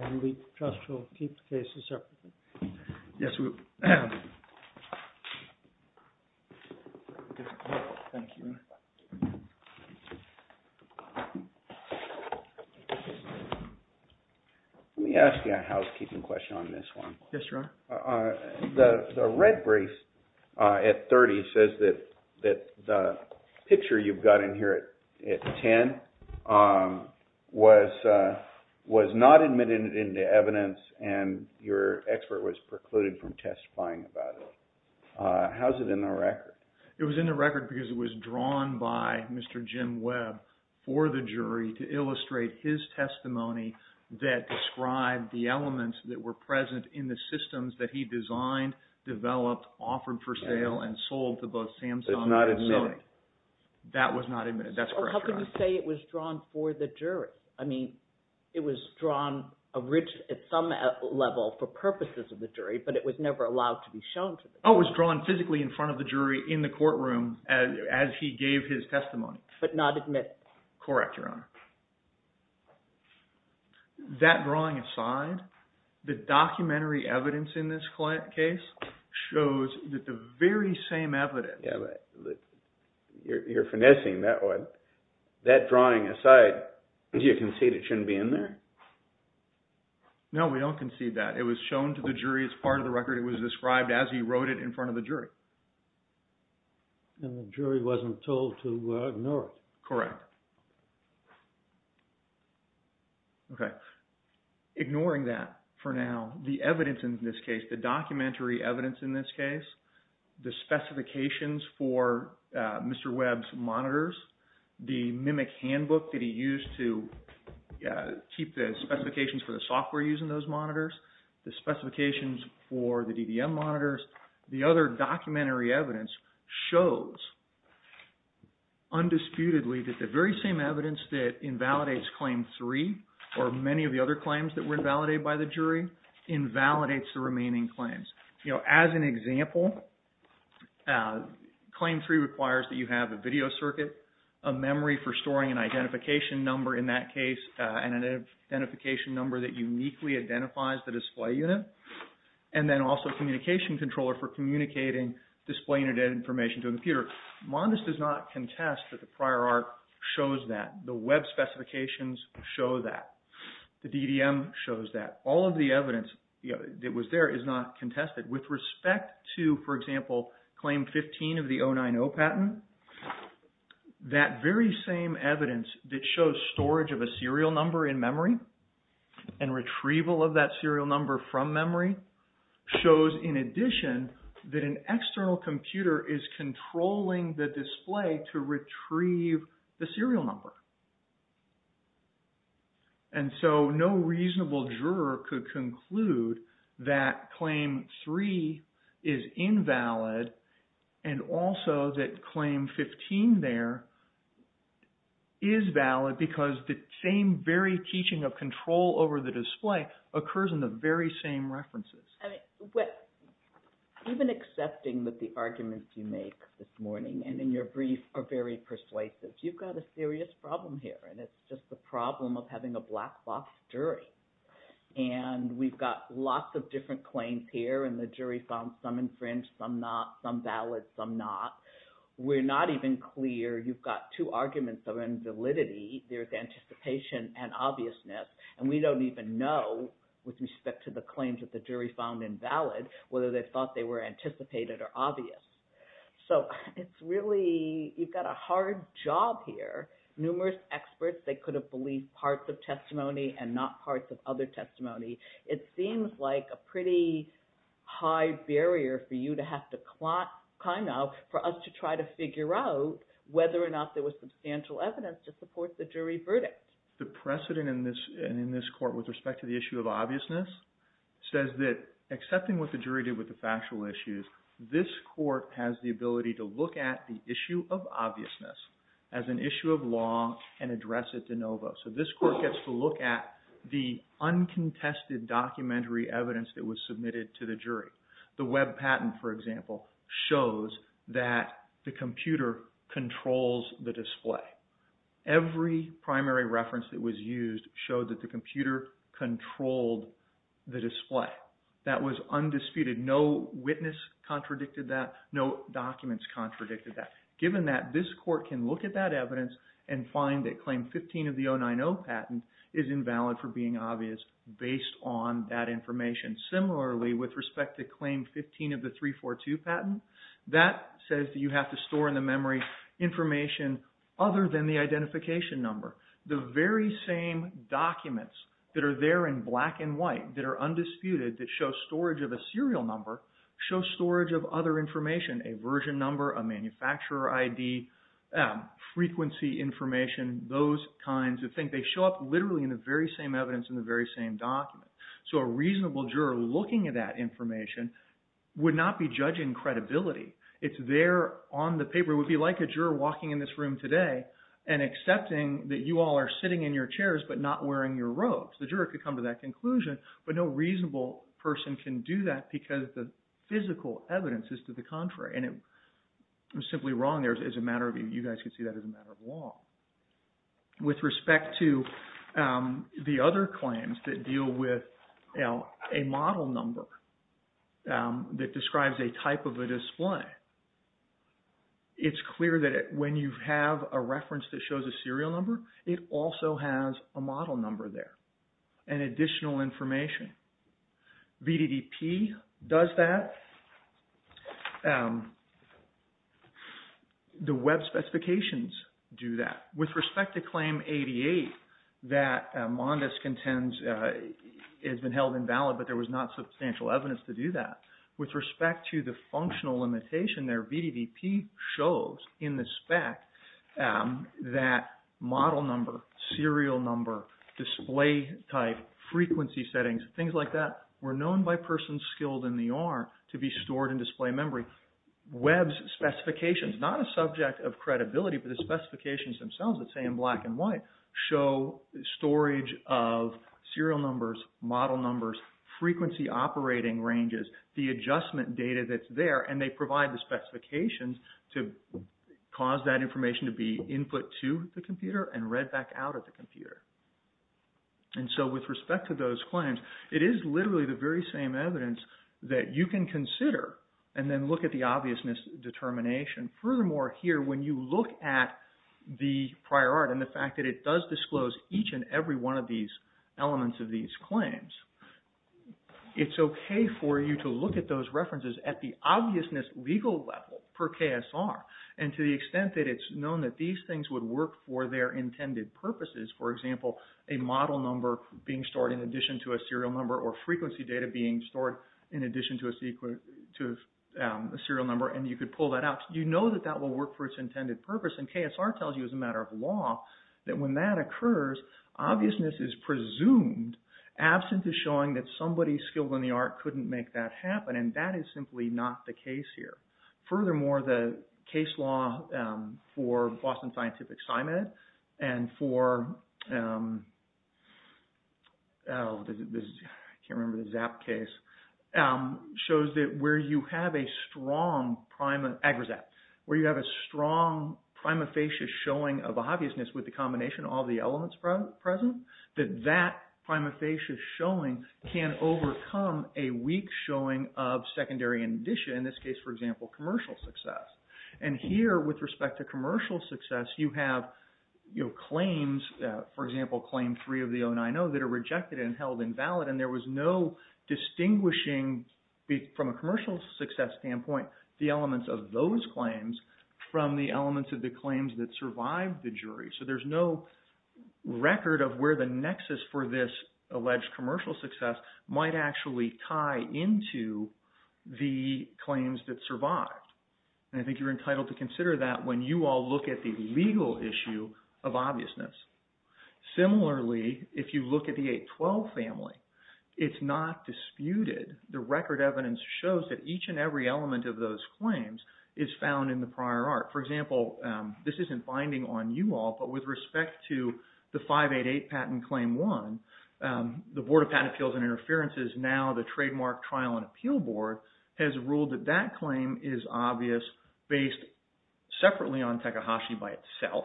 And we trust we'll keep the cases separate. Yes, we will. Thank you. Let me ask you a housekeeping question on this one. Yes, Your Honor. The red brief at 30 says that the picture you've got in here at 10 was not admitted into evidence and your expert was precluded from testifying about it. How's it in the record? That was not admitted. That's correct, Your Honor. How can you say it was drawn for the jury? I mean, it was drawn at some level for purposes of the jury, but it was never allowed to be shown to the jury. Oh, it was drawn physically in front of the jury in the courtroom as he gave his testimony. But not admitted. Correct, Your Honor. That drawing aside, the documentary evidence in this case shows that the very same evidence… You're finessing that one. That drawing aside, do you concede it shouldn't be in there? No, we don't concede that. It was shown to the jury as part of the record. It was described as he wrote it in front of the jury. And the jury wasn't told to ignore it. Correct. Okay. Ignoring that for now, the evidence in this case, the documentary evidence in this case, the specifications for Mr. Webb's monitors, the MMIC handbook that he used to keep the specifications for the software used in those monitors, the specifications for the DDM monitors, the other documentary evidence shows, undisputedly, that the very same evidence that invalidates Claim 3, or many of the other claims that were invalidated by the jury, invalidates the remaining claims. As an example, Claim 3 requires that you have a video circuit, a memory for storing an identification number in that case, and an identification number that uniquely identifies the display unit, and then also a communication controller for communicating display unit information to a computer. Mondes does not contest that the prior art shows that. The Webb specifications show that. The DDM shows that. All of the evidence that was there is not contested. With respect to, for example, Claim 15 of the 090 patent, that very same evidence that shows storage of a serial number in memory and retrieval of that serial number from memory shows, in addition, that an external computer is controlling the display to retrieve the serial number. And so no reasonable juror could conclude that Claim 3 is invalid and also that Claim 15 there is valid because the same very teaching of control over the display occurs in the very same references. Even accepting that the arguments you make this morning and in your brief are very persuasive, you've got a serious problem here, and it's just the problem of having a black box jury. And we've got lots of different claims here, and the jury found some infringed, some not, some valid, some not. We're not even clear. You've got two arguments of invalidity. There's anticipation and obviousness, and we don't even know, with respect to the claims that the jury found invalid, whether they thought they were anticipated or obvious. So it's really, you've got a hard job here. Numerous experts, they could have believed parts of testimony and not parts of other testimony. It seems like a pretty high barrier for you to have to kind of, for us to try to figure out whether or not there was substantial evidence to support the jury verdict. The precedent in this court with respect to the issue of obviousness says that accepting what the jury did with the factual issues, this court has the ability to look at the issue of obviousness as an issue of law and address it de novo. So this court gets to look at the uncontested documentary evidence that was submitted to the jury. The web patent, for example, shows that the computer controls the display. Every primary reference that was used showed that the computer controlled the display. That was undisputed. No witness contradicted that. No documents contradicted that. Given that, this court can look at that evidence and find that claim 15 of the 090 patent is invalid for being obvious based on that information. Similarly, with respect to claim 15 of the 342 patent, that says that you have to store in the memory information other than the identification number. The very same documents that are there in black and white that are undisputed that show storage of a serial number show storage of other information, a version number, a manufacturer ID, frequency information, those kinds of things. They show up literally in the very same evidence in the very same document. So a reasonable juror looking at that information would not be judging credibility. It's there on the paper. It would be like a juror walking in this room today and accepting that you all are sitting in your chairs but not wearing your robes. The juror could come to that conclusion, but no reasonable person can do that because the physical evidence is to the contrary. I'm simply wrong there. It's a matter of – you guys can see that as a matter of law. With respect to the other claims that deal with a model number that describes a type of a display, it's clear that when you have a reference that shows a serial number, it also has a model number there and additional information. VDDP does that. The web specifications do that. With respect to Claim 88 that Mondes contends has been held invalid, but there was not substantial evidence to do that. With respect to the functional limitation there, VDDP shows in the spec that model number, serial number, display type, frequency settings, things like that were known by persons skilled in the R to be stored in display memory. Web's specifications, not a subject of credibility, but the specifications themselves that say in black and white show storage of serial numbers, model numbers, frequency operating ranges, the adjustment data that's there, and they provide the specifications to cause that information to be input to the computer and read back out at the computer. And so with respect to those claims, it is literally the very same evidence that you can consider and then look at the obviousness determination. Furthermore, here when you look at the prior art and the fact that it does disclose each and every one of these elements of these claims, it's okay for you to look at those references at the obviousness legal level per KSR. And to the extent that it's known that these things would work for their intended purposes, for example, a model number being stored in addition to a serial number or frequency data being stored in addition to a serial number and you could pull that out. You know that that will work for its intended purpose, and KSR tells you as a matter of law that when that occurs, obviousness is presumed absent of showing that somebody skilled in the art couldn't make that happen, and that is simply not the case here. And here, with respect to commercial success, you have claims, for example, Claim 3 of the 090 that are rejected and held invalid, and there was no distinguishing from a commercial success standpoint the elements of those claims. So there's no record of where the nexus for this alleged commercial success might actually tie into the claims that survived. And I think you're entitled to consider that when you all look at the legal issue of obviousness. Similarly, if you look at the 812 family, it's not disputed. The record evidence shows that each and every element of those claims is found in the prior art. For example, this isn't binding on you all, but with respect to the 588 Patent Claim 1, the Board of Patent Appeals and Interferences, now the Trademark Trial and Appeal Board, has ruled that that claim is obvious based separately on Takahashi by itself,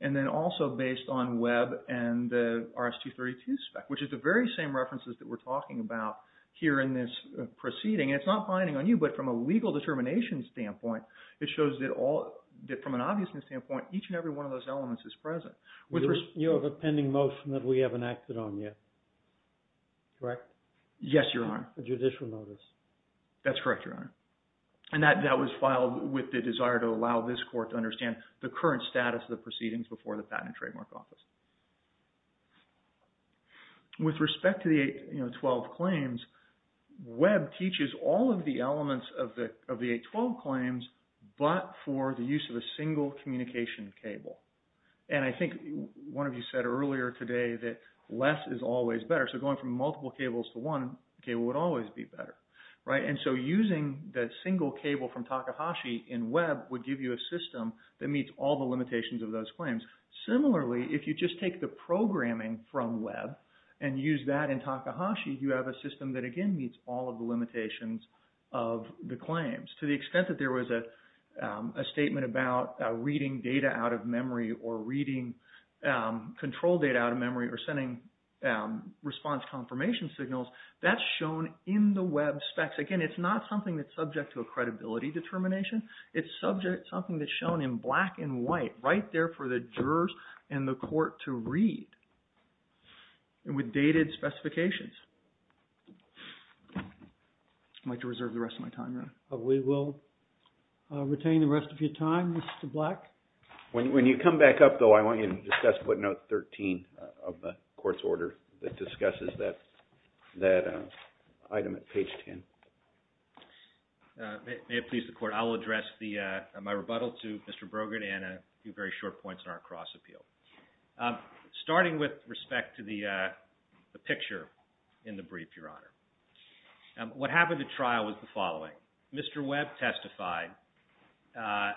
and then also based on Webb and the RS-232 spec, which is the very same references that we're talking about here in this proceeding. It's not binding on you, but from a legal determination standpoint, it shows that from an obviousness standpoint, each and every one of those elements is present. You have a pending motion that we haven't acted on yet, correct? Yes, Your Honor. A judicial notice. That's correct, Your Honor. And that was filed with the desire to allow this court to understand the current status of the proceedings before the Patent and Trademark Office. With respect to the 812 claims, Webb teaches all of the elements of the 812 claims, but for the use of a single communication cable. And I think one of you said earlier today that less is always better. So going from multiple cables to one cable would always be better, right? And so using that single cable from Takahashi in Webb would give you a system that meets all the limitations of those claims. Similarly, if you just take the programming from Webb and use that in Takahashi, you have a system that, again, meets all of the limitations of the claims. To the extent that there was a statement about reading data out of memory or reading control data out of memory or sending response confirmation signals, that's shown in the Webb specs. Again, it's not something that's subject to a credibility determination. It's something that's shown in black and white right there for the jurors and the court to read with dated specifications. I'd like to reserve the rest of my time, Your Honor. We will retain the rest of your time, Mr. Black. When you come back up, though, I want you to discuss footnote 13 of the court's order that discusses that item at page 10. May it please the court, I will address my rebuttal to Mr. Brogan and a few very short points in our cross-appeal. Starting with respect to the picture in the brief, Your Honor, what happened at trial was the following. Mr. Webb testified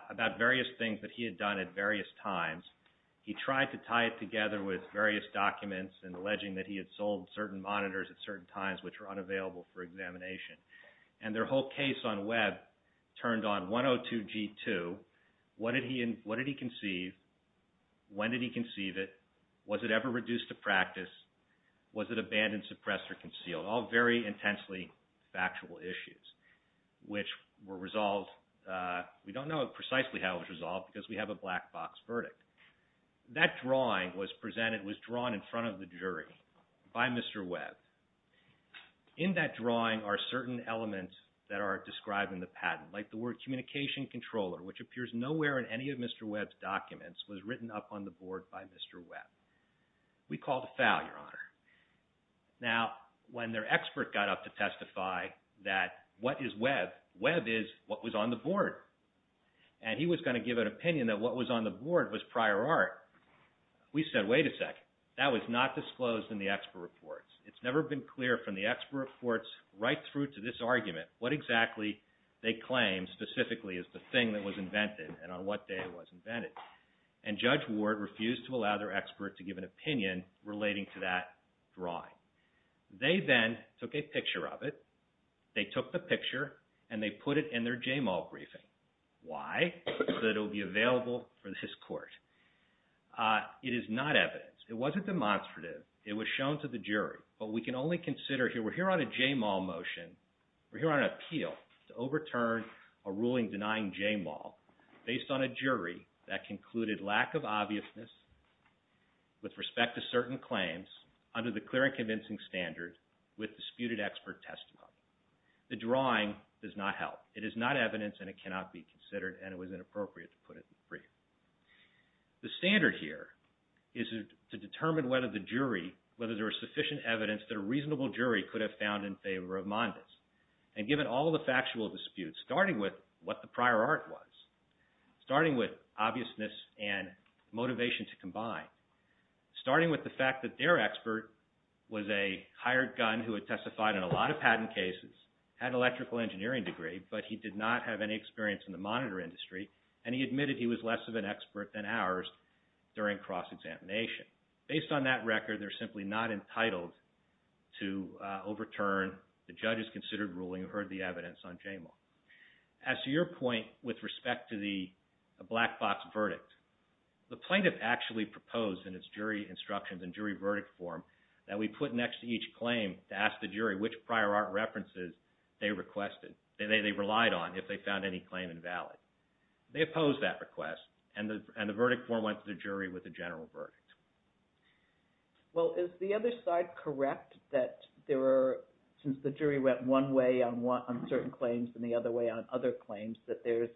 about various things that he had done at various times. He tried to tie it together with various documents and alleging that he had sold certain monitors at certain times which were unavailable for examination. And their whole case on Webb turned on 102-G2. What did he conceive? When did he conceive it? Was it ever reduced to practice? Was it abandoned, suppressed, or concealed? All very intensely factual issues which were resolved. We don't know precisely how it was resolved because we have a black box verdict. That drawing was presented, was drawn in front of the jury by Mr. Webb. In that drawing are certain elements that are described in the patent, like the word communication controller, which appears nowhere in any of Mr. Webb's documents, was written up on the board by Mr. Webb. We call it a foul, Your Honor. Now, when their expert got up to testify that, what is Webb? Webb is what was on the board. And he was going to give an opinion that what was on the board was prior art. We said, wait a second. That was not disclosed in the expert reports. It's never been clear from the expert reports right through to this argument what exactly they claim specifically is the thing that was invented and on what day it was invented. And Judge Ward refused to allow their expert to give an opinion relating to that drawing. They then took a picture of it. They took the picture, and they put it in their JMAL briefing. Why? So that it will be available for this court. It is not evidence. It wasn't demonstrative. It was shown to the jury. We're here on a JMAL motion. We're here on an appeal to overturn a ruling denying JMAL based on a jury that concluded lack of obviousness with respect to certain claims under the clear and convincing standard with disputed expert testimony. The drawing does not help. It is not evidence, and it cannot be considered, and it was inappropriate to put it in the brief. The standard here is to determine whether there is sufficient evidence that a reasonable jury could have found in favor of Mondes. And given all the factual disputes, starting with what the prior art was, starting with obviousness and motivation to combine, starting with the fact that their expert was a hired gun who had testified in a lot of patent cases, had an electrical engineering degree, but he did not have any experience in the monitor industry, and he admitted he was less of an expert than ours during cross-examination. Based on that record, they're simply not entitled to overturn the judge's considered ruling who heard the evidence on JMAL. As to your point with respect to the black box verdict, the plaintiff actually proposed in its jury instructions and jury verdict form that we put next to each claim to ask the jury which prior art references they requested, they relied on, if they found any claim invalid. They opposed that request, and the verdict form went to the jury with a general verdict. Well, is the other side correct that since the jury went one way on certain claims and the other way on other claims that they're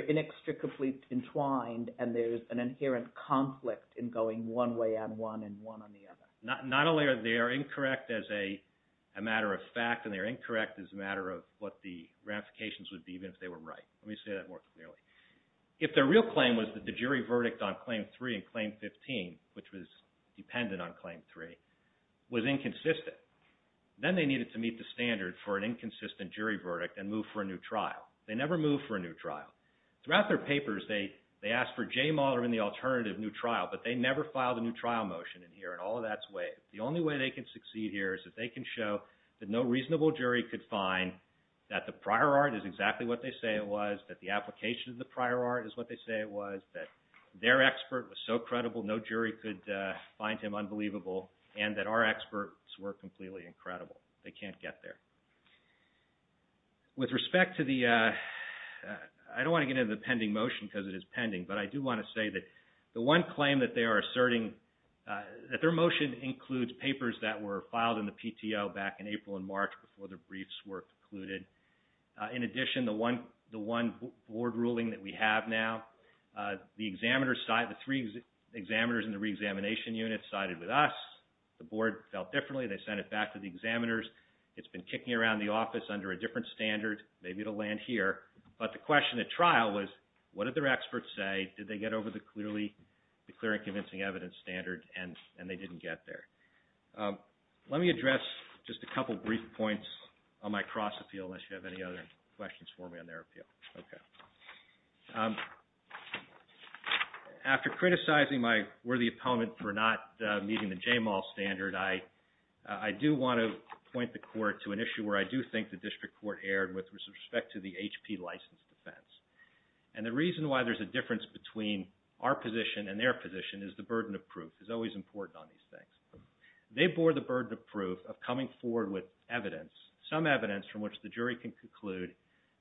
inextricably entwined and there's an inherent conflict in going one way on one and one on the other? Not only are they incorrect as a matter of fact, and they're incorrect as a matter of what the ramifications would be even if they were right. Let me say that more clearly. If their real claim was that the jury verdict on Claim 3 and Claim 15, which was dependent on Claim 3, was inconsistent, then they needed to meet the standard for an inconsistent jury verdict and move for a new trial. They never moved for a new trial. Throughout their papers, they asked for JMAL or any alternative new trial, but they never filed a new trial motion in here, and all of that's waived. The only way they can succeed here is that they can show that no reasonable jury could find that the prior art is exactly what they say it was, that the application of the prior art is what they say it was, that their expert was so credible no jury could find him unbelievable, and that our experts were completely incredible. They can't get there. With respect to the – I don't want to get into the pending motion because it is pending, but I do want to say that the one claim that they are asserting – that their motion includes papers that were filed in the PTO back in April and March before the briefs were concluded. In addition, the one board ruling that we have now, the examiners – the three examiners in the reexamination unit sided with us. The board felt differently. They sent it back to the examiners. It's been kicking around the office under a different standard. Maybe it will land here. But the question at trial was, what did their experts say? Did they get over the clear and convincing evidence standard, and they didn't get there. Let me address just a couple brief points on my cross-appeal, unless you have any other questions for me on their appeal. Okay. After criticizing my worthy opponent for not meeting the JMAL standard, I do want to point the court to an issue where I do think the district court erred with respect to the HP license defense. And the reason why there's a difference between our position and their position is the burden of proof. It's always important on these things. They bore the burden of proof of coming forward with evidence, some evidence from which the jury can conclude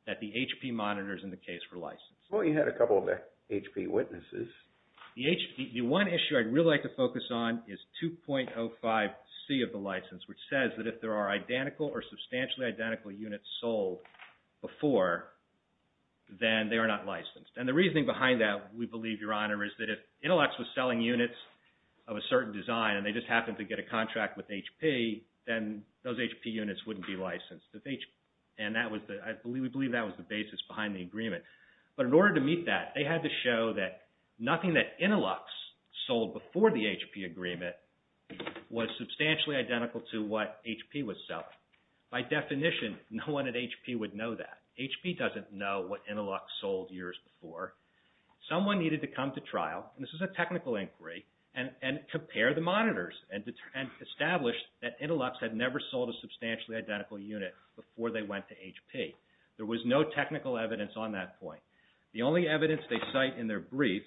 that the HP monitors in the case were licensed. Well, you had a couple of HP witnesses. The one issue I'd really like to focus on is 2.05C of the license, which says that if there are identical or substantially identical units sold before, then they are not licensed. And the reasoning behind that, we believe, Your Honor, is that if Intellects was selling units of a certain design and they just happened to get a contract with HP, then those HP units wouldn't be licensed. And we believe that was the basis behind the agreement. But in order to meet that, they had to show that nothing that Intellects sold before the HP agreement was substantially identical to what HP was selling. By definition, no one at HP would know that. HP doesn't know what Intellects sold years before. Someone needed to come to trial, and this is a technical inquiry, and compare the monitors and establish that Intellects had never sold a substantially identical unit before they went to HP. There was no technical evidence on that point. The only evidence they cite in their brief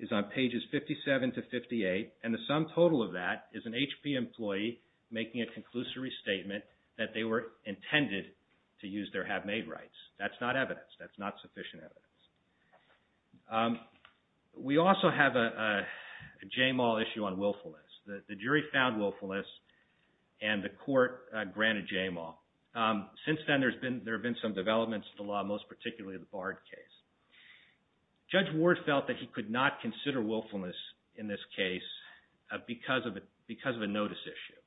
is on pages 57 to 58, and the sum total of that is an HP employee making a conclusory statement that they were intended to use their have-made rights. That's not evidence. That's not sufficient evidence. We also have a JMAW issue on willfulness. The jury found willfulness, and the court granted JMAW. Since then, there have been some developments in the law, most particularly the Bard case. Judge Ward felt that he could not consider willfulness in this case because of a notice issue,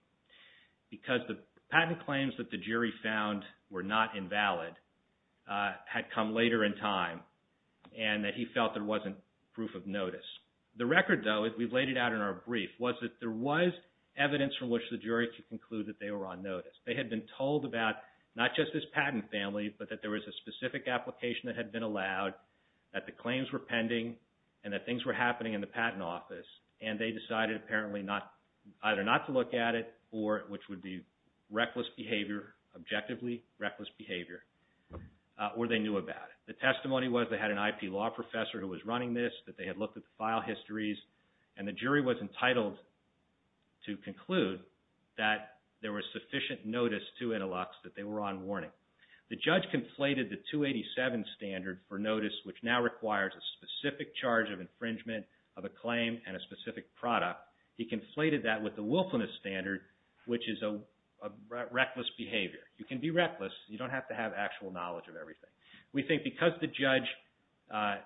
because the patent claims that the jury found were not invalid had come later in time, and that he felt there wasn't proof of notice. The record, though, as we've laid it out in our brief, was that there was evidence from which the jury could conclude that they were on notice. They had been told about not just this patent family, but that there was a specific application that had been allowed, that the claims were pending, and that things were happening in the patent office, and they decided apparently either not to look at it, which would be reckless behavior, objectively reckless behavior, or they knew about it. The testimony was they had an IP law professor who was running this, that they had looked at the file histories, and the jury was entitled to conclude that there was sufficient notice to Intilux that they were on warning. The judge conflated the 287 standard for notice, which now requires a specific charge of infringement of a claim and a specific product. He conflated that with the willfulness standard, which is a reckless behavior. You can be reckless. You don't have to have actual knowledge of everything. We think because the judge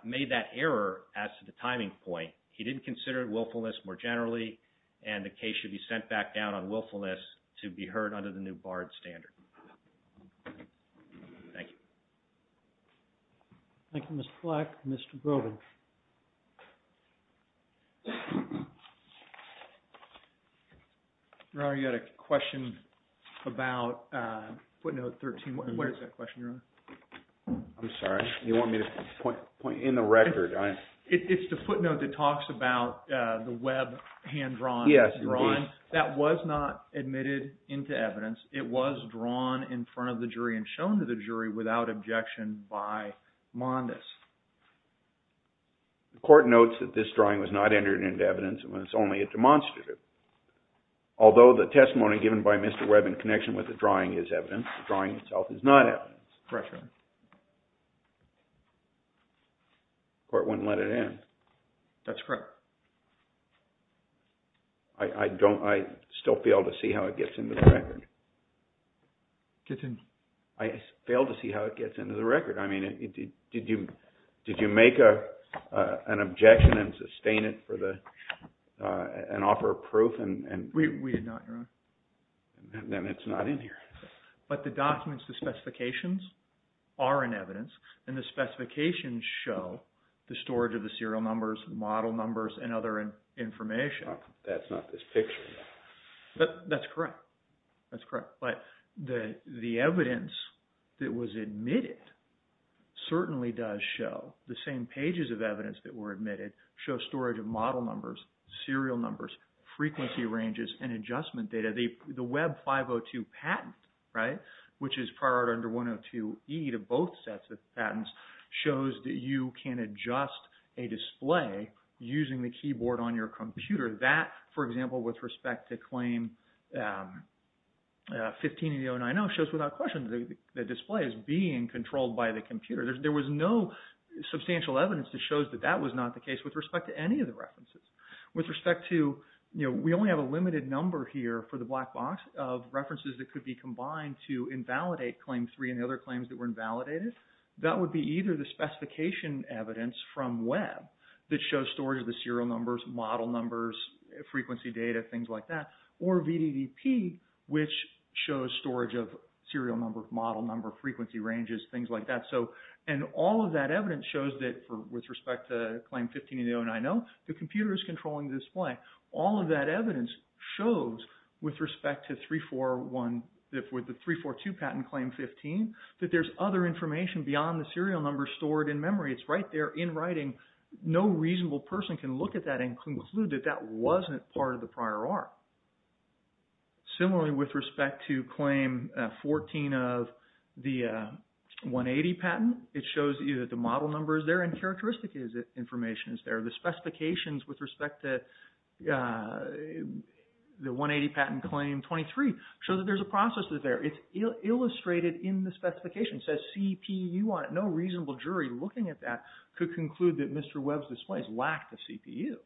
made that error as to the timing point, he didn't consider willfulness more generally, and the case should be sent back down on willfulness to be heard under the new BARD standard. Thank you. Thank you, Mr. Fleck. Mr. Groban. Ron, you had a question about footnote 13. What is that question, Ron? I'm sorry. You want me to point in the record? It's the footnote that talks about the web hand-drawn. Yes, it is. That was not admitted into evidence. It was drawn in front of the jury and shown to the jury without objection by Mondis. The court notes that this drawing was not entered into evidence and was only a demonstrative. Although the testimony given by Mr. Webb in connection with the drawing is evidence, the drawing itself is not evidence. Correct, sir. The court wouldn't let it in. That's correct. I still fail to see how it gets into the record. Gets in? I fail to see how it gets into the record. I mean, did you make an objection and sustain it and offer proof? We did not, Your Honor. Then it's not in here. But the documents, the specifications are in evidence, and the specifications show the storage of the serial numbers, model numbers, and other information. That's not this picture. That's correct. That's correct. But the evidence that was admitted certainly does show the same pages of evidence that were admitted show storage of model numbers, serial numbers, frequency ranges, and adjustment data. The Webb 502 patent, right, which is prior under 102E to both sets of patents, shows that you can adjust a display using the keyboard on your computer. That, for example, with respect to claim 158090, shows without question that the display is being controlled by the computer. There was no substantial evidence that shows that that was not the case with respect to any of the references. With respect to, you know, we only have a limited number here for the black box of references that could be combined to invalidate claim three and the other claims that were invalidated. That would be either the specification evidence from Webb that shows storage of the serial numbers, model numbers, frequency data, things like that, or VDDP, which shows storage of serial number, model number, frequency ranges, things like that. And all of that evidence shows that with respect to claim 158090, the computer is controlling the display. All of that evidence shows with respect to 341, with the 342 patent claim 15, that there's other information beyond the serial numbers stored in memory. It's right there in writing. No reasonable person can look at that and conclude that that wasn't part of the prior art. Similarly, with respect to claim 14 of the 180 patent, it shows you that the model number is there and characteristic information is there. The specifications with respect to the 180 patent claim 23 show that there's a process that's there. It's illustrated in the specification. It says CPU on it. No reasonable jury looking at that could conclude that Mr. Webb's display lacked a CPU.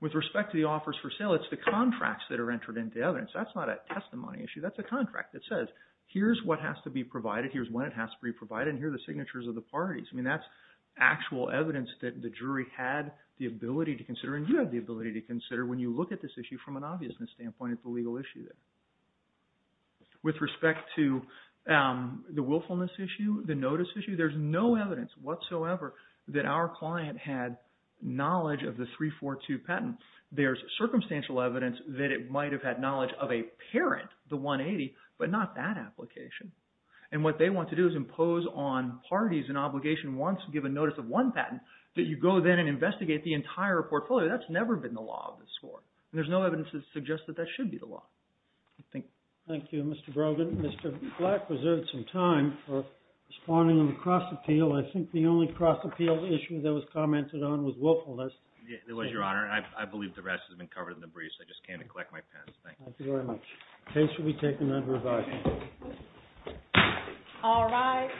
With respect to the offers for sale, it's the contracts that are entered into evidence. That's not a testimony issue. That's a contract that says here's what has to be provided, here's when it has to be provided, and here are the signatures of the parties. I mean that's actual evidence that the jury had the ability to consider and you have the ability to consider when you look at this issue from an obviousness standpoint at the legal issue there. With respect to the willfulness issue, the notice issue, there's no evidence whatsoever that our client had knowledge of the 342 patent. There's circumstantial evidence that it might have had knowledge of a parent, the 180, but not that application. And what they want to do is impose on parties an obligation once given notice of one patent that you go then and investigate the entire portfolio. That's never been the law of this court. And there's no evidence that suggests that that should be the law. Thank you, Mr. Brogan. Mr. Black reserved some time for responding on the cross-appeal. I think the only cross-appeal issue that was commented on was willfulness. It was, Your Honor, and I believe the rest has been covered in the briefs. I just came to collect my pens. Thank you. Thank you very much. Case will be taken under revising. All right.